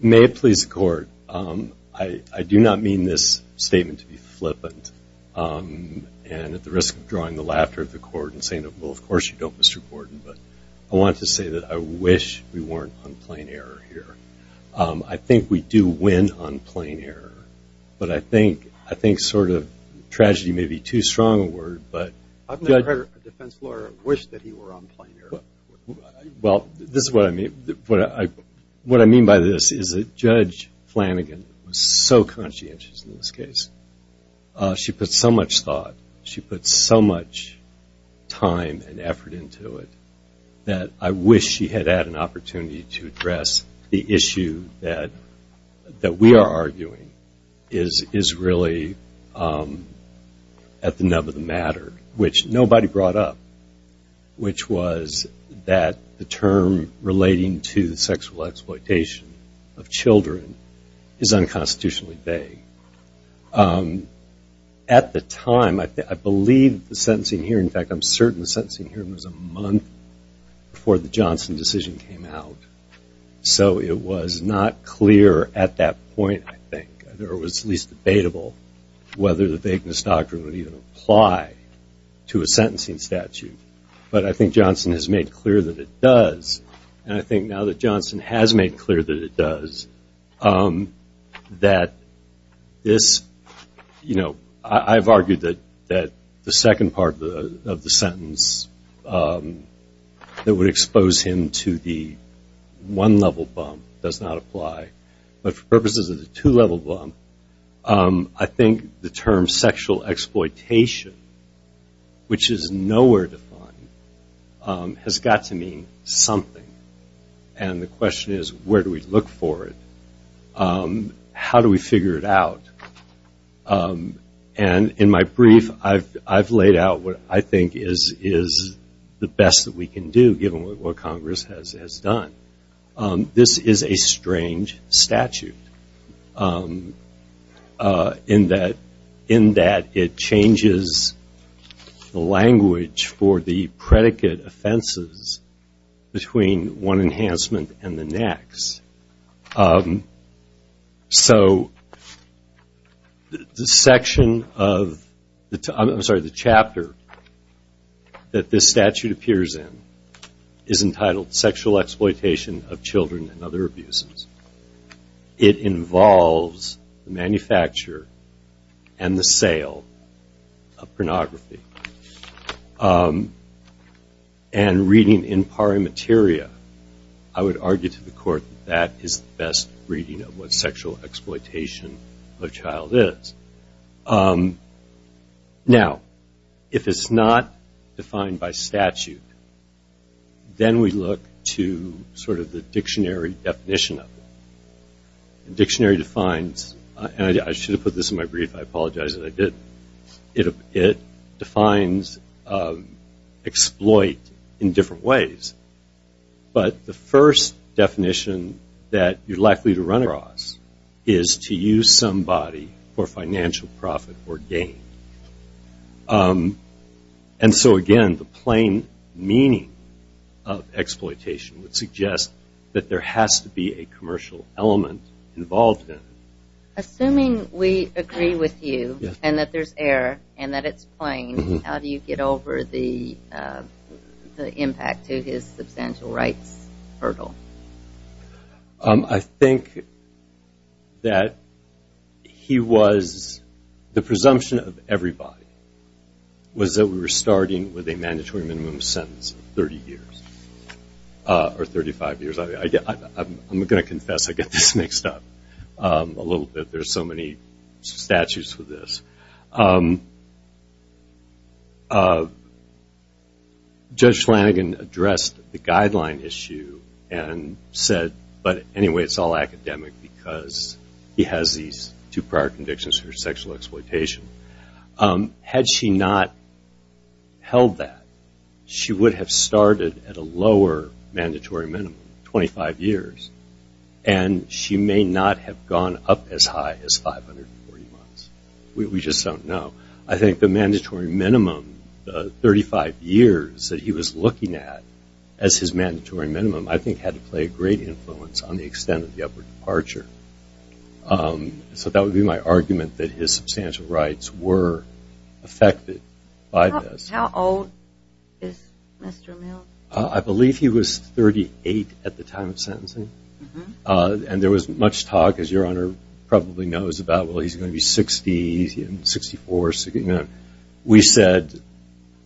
May it please the court, I do not mean this statement to be flippant and at the risk of drawing the laughter of the court and saying, well of course you don't Mr. Gordon, but I wanted to say that I wish we weren't on plain error here. I think we do win on plain error, but I think sort of tragedy may be too strong a word, but- I've never heard a defense lawyer wish that he were on plain error. Well this is what I mean, what I mean by this is that Judge Flanagan was so conscientious in this case. She put so much thought, she put so much time and effort into it that I wish she had had an opportunity to address the issue that we are arguing is really at the nub of the matter, which nobody brought up, which was that the term relating to the sexual exploitation of children is unconstitutionally vague. At the time, I believe the sentencing hearing, in fact I'm certain the sentencing hearing was a month before the Johnson decision came out, so it was not clear at that time to a sentencing statute, but I think Johnson has made clear that it does, and I think now that Johnson has made clear that it does, that this, you know, I've argued that the second part of the sentence that would expose him to the one level bump does not apply, but for purposes of the two level exploitation, which is nowhere to find, has got to mean something, and the question is where do we look for it? How do we figure it out? And in my brief, I've laid out what I think is the best that we can do, given what Congress has done. This is a strange statute, in that it changes the language for the predicate offenses between one enhancement and the next. So the section of, I'm sorry, the chapter that this statute appears in is entitled Sexual Exploitation of Children and Other Abuses. It involves the manufacture and the sale of pornography, and reading in pari materia, I would argue to the court that is the best reading of what sexual exploitation of a child is. Now, if it's not defined by statute, then we look to sort of the dictionary definition of it. The dictionary defines, and I should have put this in my brief, I that you're likely to run across is to use somebody for financial profit or gain. And so again, the plain meaning of exploitation would suggest that there has to be a commercial element involved in it. Assuming we agree with you, and that there's error, and that it's plain, how do you get over the impact to his substantial rights hurdle? I think that he was, the presumption of everybody was that we were starting with a mandatory minimum sentence of 35 years. I'm going to confess, I get this mixed up a little bit. There's so many statutes for this. Judge Flanagan addressed the guideline issue and said, but anyway, it's all academic because he has these two prior sexual exploitation. Had she not held that, she would have started at a lower mandatory minimum, 25 years, and she may not have gone up as high as 540 months. We just don't know. I think the mandatory minimum, the 35 years that he was looking at as his mandatory minimum, I think had to play a great influence on the extent of the upper departure. So that would be my argument that his substantial rights were affected by this. How old is Mr. Mill? I believe he was 38 at the time of sentencing. And there was much talk, as your Honor probably knows about, well he's going to be 60, 64. We said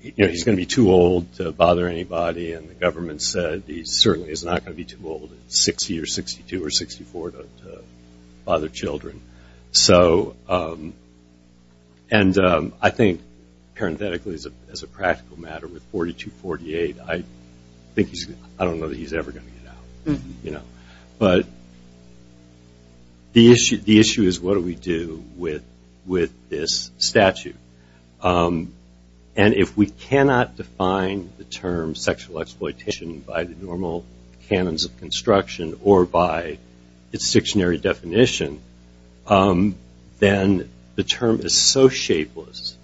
he's going to be too old to bother anybody, and the government said he certainly is not going to be too old at 60 or 62 or 64 to bother children. And I think parenthetically, as a practical matter, with 42, 48, I don't know that he's ever going to get out. But the issue is what do we do with this statute? And if we cannot define the term sexual exploitation by the normal canons of construction or by its dictionary definition, then the term is so shapeless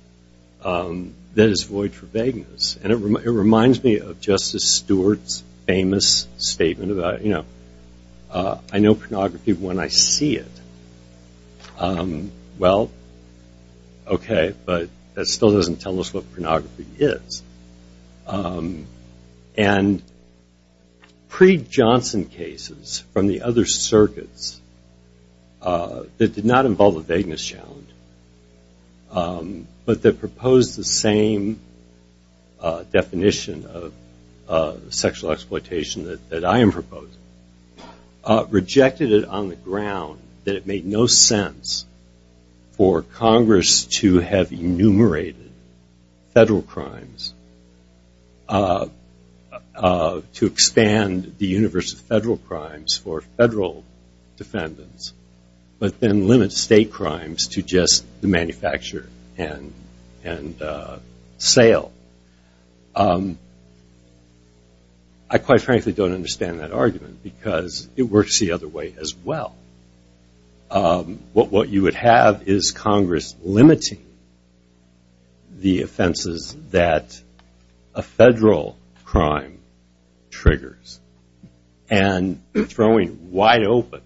that it's void for vagueness. And it reminds me of Justice Stewart's famous statement about, I know pornography when I see it. Well, okay, but that still doesn't tell us what pornography is. And pre-Johnson cases from the other circuits that did not involve a vagueness challenge, but that proposed the same definition of sexual exploitation that I am proposing, rejected it on the ground that it made no sense for Congress to have enumerated federal crimes, to expand the universe of federal crimes for federal defendants, but then limit state crimes to just the manufacture and sale. I quite frankly don't understand that argument because it works the other way as well. What you would have is Congress limiting the offenses that a federal crime triggers and throwing wide open,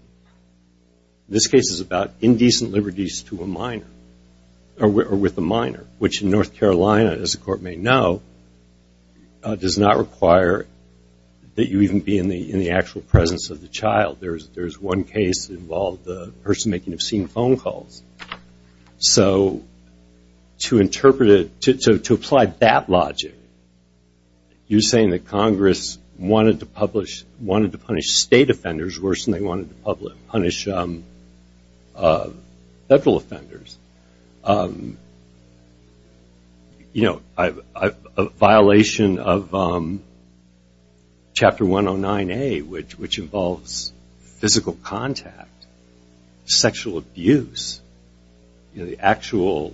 this case is about indecent liberties to a minor or with a minor, which in North Carolina, as the Court may know, does not require that you even be in the actual presence of the child. There's one case that involved the person making obscene phone calls. So to interpret it, to apply that logic, you're saying that Congress wanted to punish state offenders worse than they wanted to punish federal offenders. A violation of Chapter 109A, which involves physical contact, sexual abuse, the actual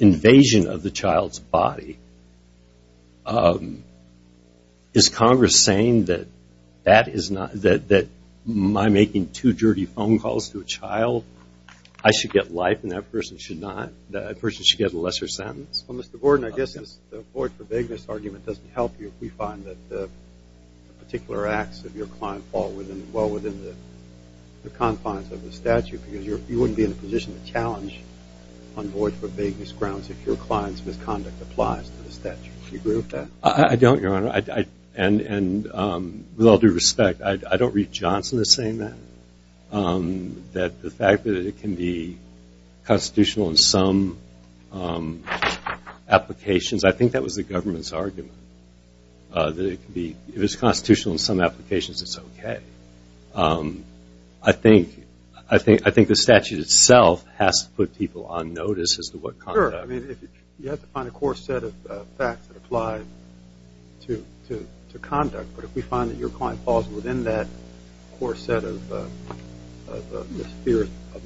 invasion of the child's body, is Congress saying that that is not, that my making two dirty phone calls to a child, I should get life and that person should not, that person should get a lesser sentence? Well, Mr. Gordon, I guess the void for vagueness argument doesn't help you if we find that particular acts of your client fall well within the confines of the statute because you wouldn't be in a position to challenge on void for vagueness grounds if your client's misconduct applies to the statute. Do you agree with that? I don't, Your Honor. And with all due respect, I don't read Johnson as saying that. That the fact that it can be constitutional in some applications, I think that was the government's argument. That it can be, if it's constitutional in some applications, it's okay. I think the statute itself has to put people on notice as to what conduct. I mean, you have to find a core set of facts that apply to conduct. But if we find that your client falls within that core set of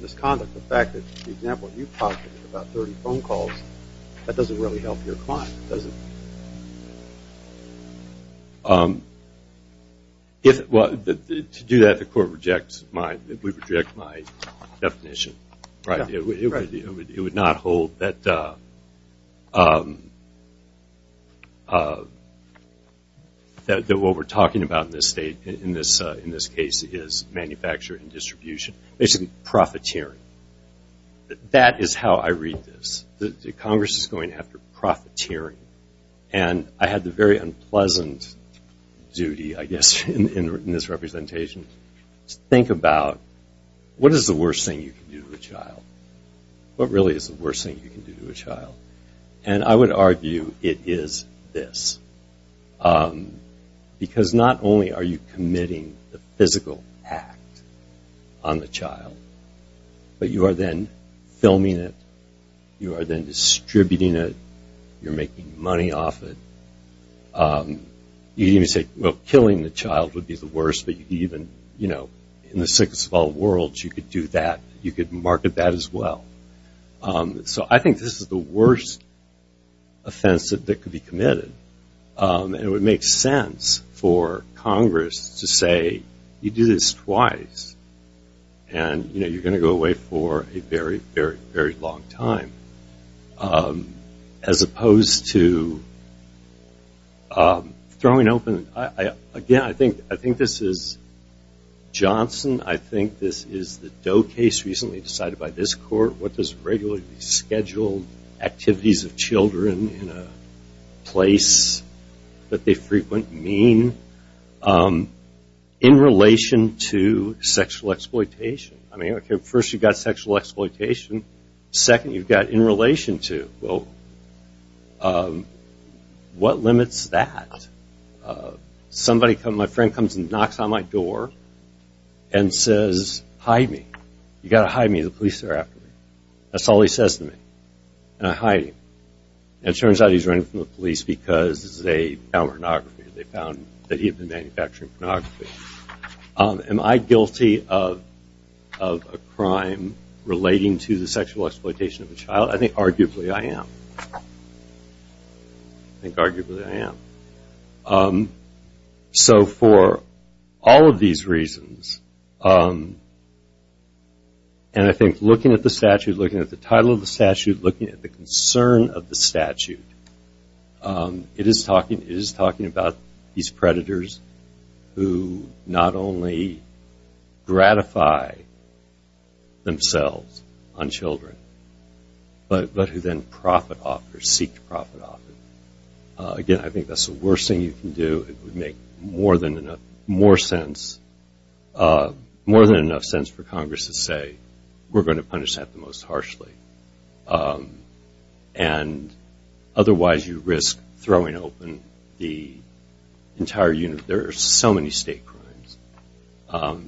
misconduct, the fact that, for example, you posited about dirty phone calls, that doesn't really help your client, does it? Well, to do that, the court rejects my definition. It would not hold that what we're talking about in this case is manufacture and I had the very unpleasant duty, I guess, in this representation to think about what is the worst thing you can do to a child? What really is the worst thing you can do to a child? And I would argue it is this. Because not only are you committing the physical act on the child, but you are then you can even say, well, killing the child would be the worst, but you can even, you know, in the 612 world, you could do that. You could market that as well. So I think this is the worst offense that could be committed. And it would make sense for Congress to say, you do this twice, and you're going to go away for a very, very, very long time. As opposed to throwing open, again, I think this is Johnson. I think this is the Doe case recently decided by this court. What does regularly scheduled activities of children in a place that they frequent mean in relation to sexual exploitation? I mean, first you've got sexual exploitation. Second, you've got in relation to. Well, what limits that? Somebody comes, my friend comes and knocks on my door and says, hide me. You've got to hide me. The police are after me. That's all he says to me. And I hide him. It turns out he's running from the police because they found pornography. They found that he had been manufacturing pornography. Am I guilty of a crime relating to the sexual exploitation of a child? I think arguably I am. I think arguably I am. So for all of these reasons, and I think looking at the statute, it is talking about these predators who not only gratify themselves on children, but who then seek to profit off it. Again, I think that's the case. And otherwise you risk throwing open the entire unit. There are so many state crimes.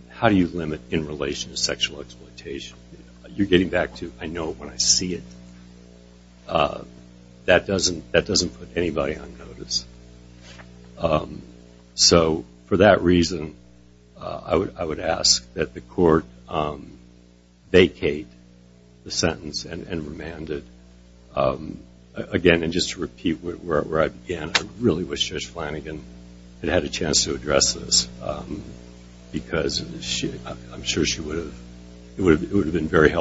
How do you limit in relation to sexual exploitation? You're getting remanded. Again, and just to repeat where I began, I really wish Judge Flanagan had had a chance to address this because I'm sure she would have. It would have been good.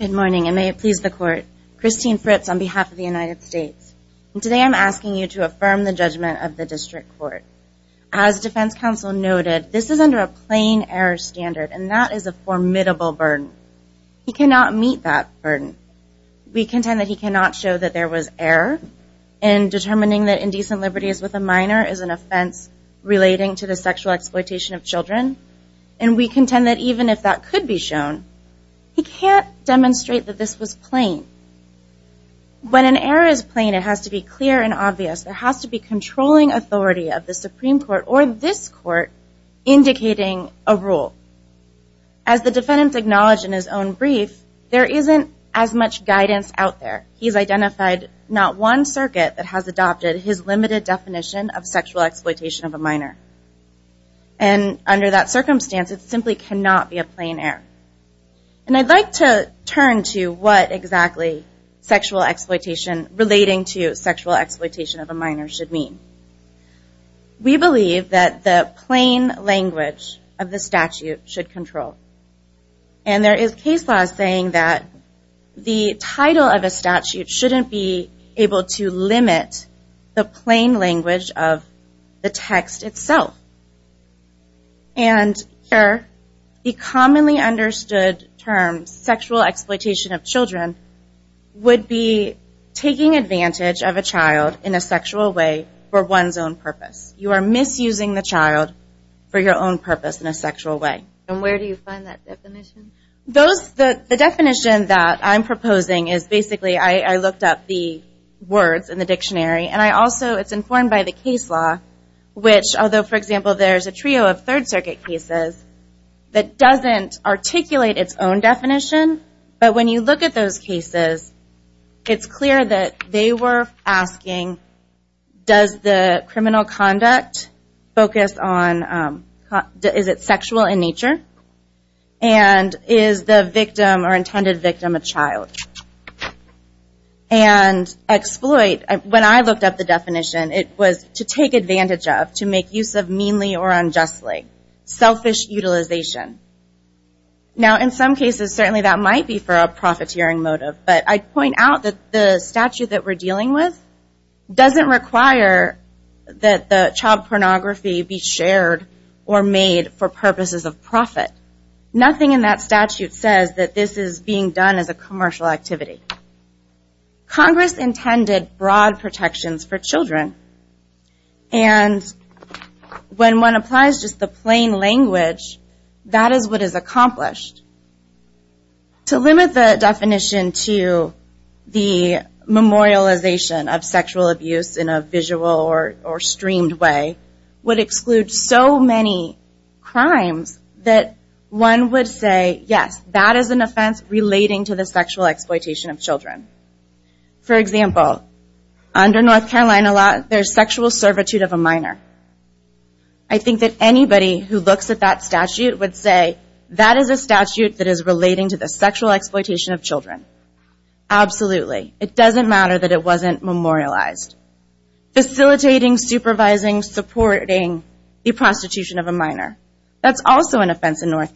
Good morning, and may it please the court. Christine Fritz on behalf of the United States. Today I'm asking you to affirm the judgment of the district court. As defense counsel noted, this is under a plain error standard, and that is a formidable burden. He cannot meet that burden. We contend that he cannot show that there was error in determining that indecent liberties with a minor is an offense relating to the sexual exploitation of children, and we contend that even if that could be shown, he can't demonstrate that this was plain. When an error is plain, it has to be clear and obvious. It has to be controlling authority of the Supreme Court or this court indicating a rule. As the defendant acknowledged in his own brief, there isn't as much guidance out there. He's identified not one circuit that has adopted his limited definition of sexual exploitation of a minor, and under that circumstance, it simply cannot be a plain error. I'd like to turn to what exactly relating to sexual exploitation of a minor should mean. We believe that the plain language of the statute should control. And there is case law saying that the title of a statute shouldn't be able to limit the plain language of the text itself. And here, the commonly understood term sexual exploitation of children would be taking advantage of a child in a sexual way for one's own purpose. You are misusing the definition. Where do you find that definition? The definition that I'm proposing is basically, I looked up the words in the dictionary, and I also, it's informed by the case law, which although, for example, there's a trio of Third Circuit cases that doesn't articulate its own definition, but when you look at those cases, it's clear that they were asking, does the criminal conduct focus on, is it sexual in nature? And is the victim or intended victim a child? And exploit, when I looked up the definition, it was to take advantage of, to make use of meanly or unjustly. Selfish utilization. Now in some cases, certainly that might be for a profiteering motive, but I point out that the statute that we're dealing with doesn't require that the child pornography be shared or made for purposes of profit. Nothing in that statute says that this is being done as a commercial activity. Congress intended broad protections for children. And when one applies just the plain language, that is what is accomplished. To limit the definition to the memorialization of sexual abuse in a visual or streamed way would exclude so many crimes that one would say, yes, that is an offense relating to the sexual exploitation of children. For example, under North Carolina law, there is sexual servitude of a minor. I think that anybody who looks at that statute would say, that is a statute that is relating to the sexual exploitation of children. Absolutely. It doesn't matter that it wasn't memorialized. Facilitating, supervising, supporting the prostitution of a minor. That's also an offense in trying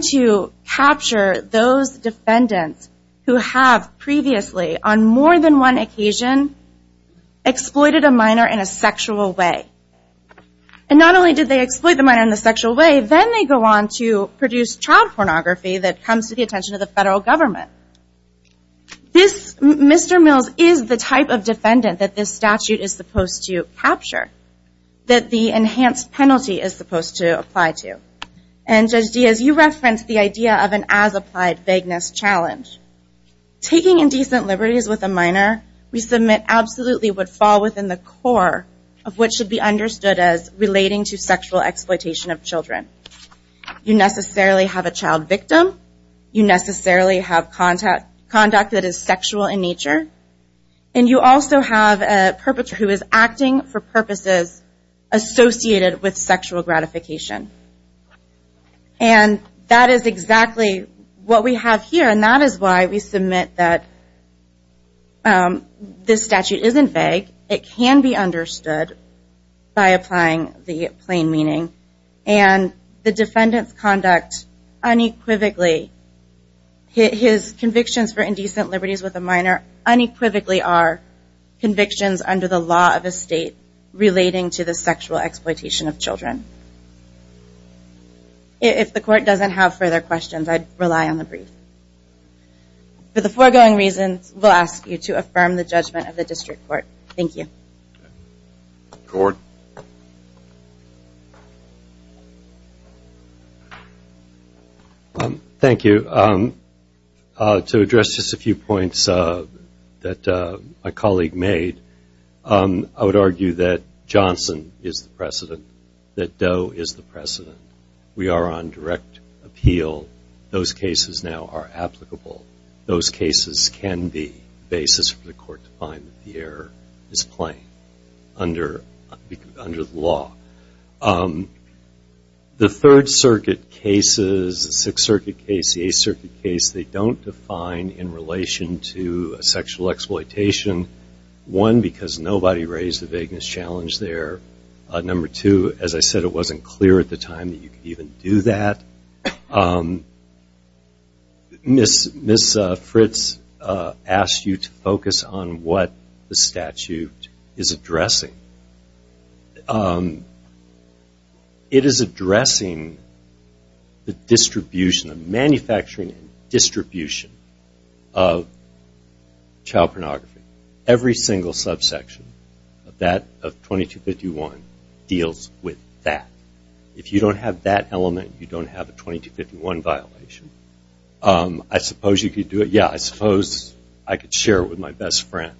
to capture those defendants who have previously, on more than one occasion, exploited a minor in a sexual way. And not only did they exploit the minor in a sexual way, then they go on to produce child pornography that comes to the attention of the federal government. Mr. Mills is the type of defendant that this statute is supposed to apply to. And Judge Diaz, you referenced the idea of an as-applied vagueness challenge. Taking indecent liberties with a minor, we submit, absolutely would fall within the core of what should be understood as relating to sexual exploitation of children. You necessarily have a child victim. You have a child victim. And that is exactly what we have here. And that is why we submit that this statute isn't vague. It can be understood by applying the plain meaning. And the defendant's conduct unequivocally, his convictions for indecent liberties with a minor, unequivocally are convictions under the law of a child. If the court doesn't have further questions, I'd rely on the brief. For the foregoing reasons, we'll ask you to affirm the judgment of the court that Doe is the precedent. We are on direct appeal. Those cases now are applicable. Those cases can be basis for the court to find that the error is plain under the law. The Third Circuit cases, the Sixth Circuit case, the Eighth Circuit case, they don't define in relation to sexual exploitation, one, because nobody raised a vagueness challenge there. Number two, as I said, it wasn't clear at the time that you could even do that. Ms. Fritz asked you to focus on what the violation of 2251 deals with that. If you don't have that element, you don't have a 2251 violation. I suppose you could do it. Yeah, I suppose I could share it with my best friend.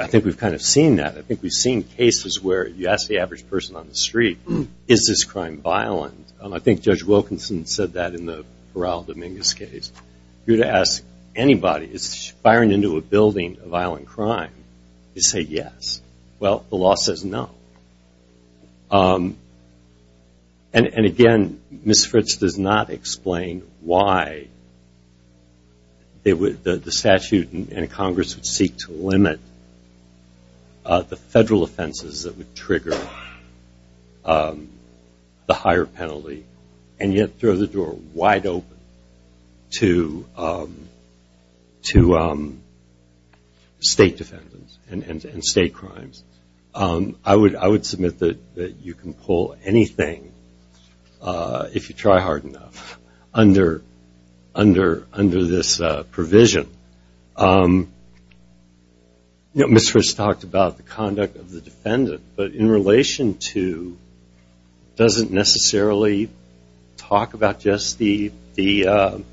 I think we've kind of seen that. I think we've seen cases where you ask the average person on the street, is this crime violent? I think Judge Wilkinson said that in the time. You say yes. Well, the law says no. And again, Ms. Fritz does not explain why the statute in Congress would seek to limit the federal offenses that would defend the defendant and state crimes. I would submit that you can pull anything, if you try hard enough, under this provision. Ms. Fritz talked about the conduct of the defendant, but in relation to, it doesn't necessarily talk about just the molester,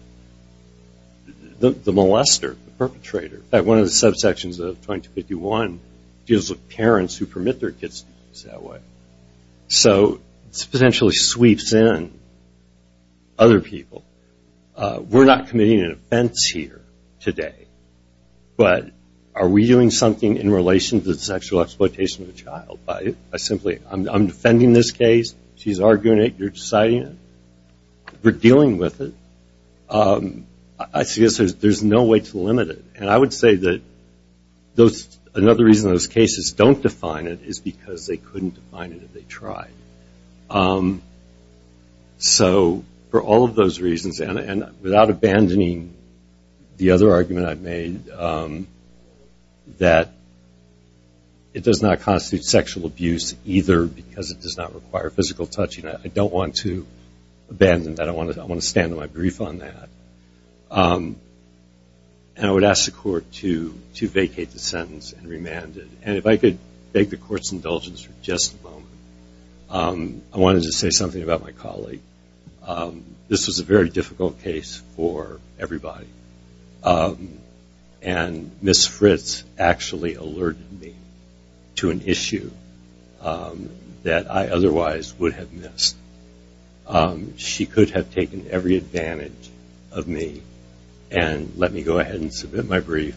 the perpetrator. One of the subsections of 2251 deals with parents who permit their kids to use that way. So it potentially sweeps in other people. We're not committing an offense here today, but are we doing something in relation to the sexual exploitation of the child? I'm defending this case. She's arguing it. We're deciding it. We're dealing with it. I suggest there's no way to limit it. And I would say that another reason those cases don't define it is because they couldn't define it if they tried. So for all of those reasons, and without abandoning the other argument I've made, that it does not constitute sexual abuse either because it does not require physical touching. I don't want to abandon that. I want to stand on my brief on that. And I would ask the court to vacate the sentence and remand it. And if I could beg the court's indulgence for just a moment, I wanted to say something about my colleague. This was a very difficult case for everybody. And Ms. Fritz actually alerted me to an issue that I otherwise would have missed. She could have taken every advantage of me and let me go ahead and submit my brief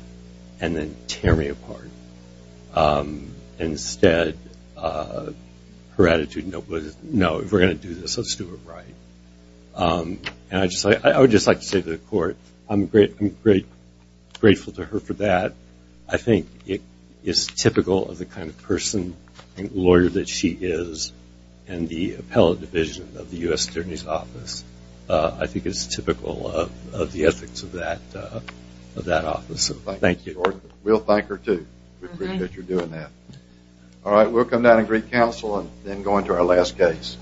and then tear me apart. Instead, her attitude was, no, if we're going to do this, let's do it right. And I would just like to say to the court, I'm grateful to her for that. I think it's typical of the kind of person and lawyer that she is in the appellate division of the U.S. Attorney's Office. I think it's typical of the ethics of that office. Thank you. We'll thank her, too. We appreciate you doing that. All right, we'll come down and greet counsel and then go into our last case.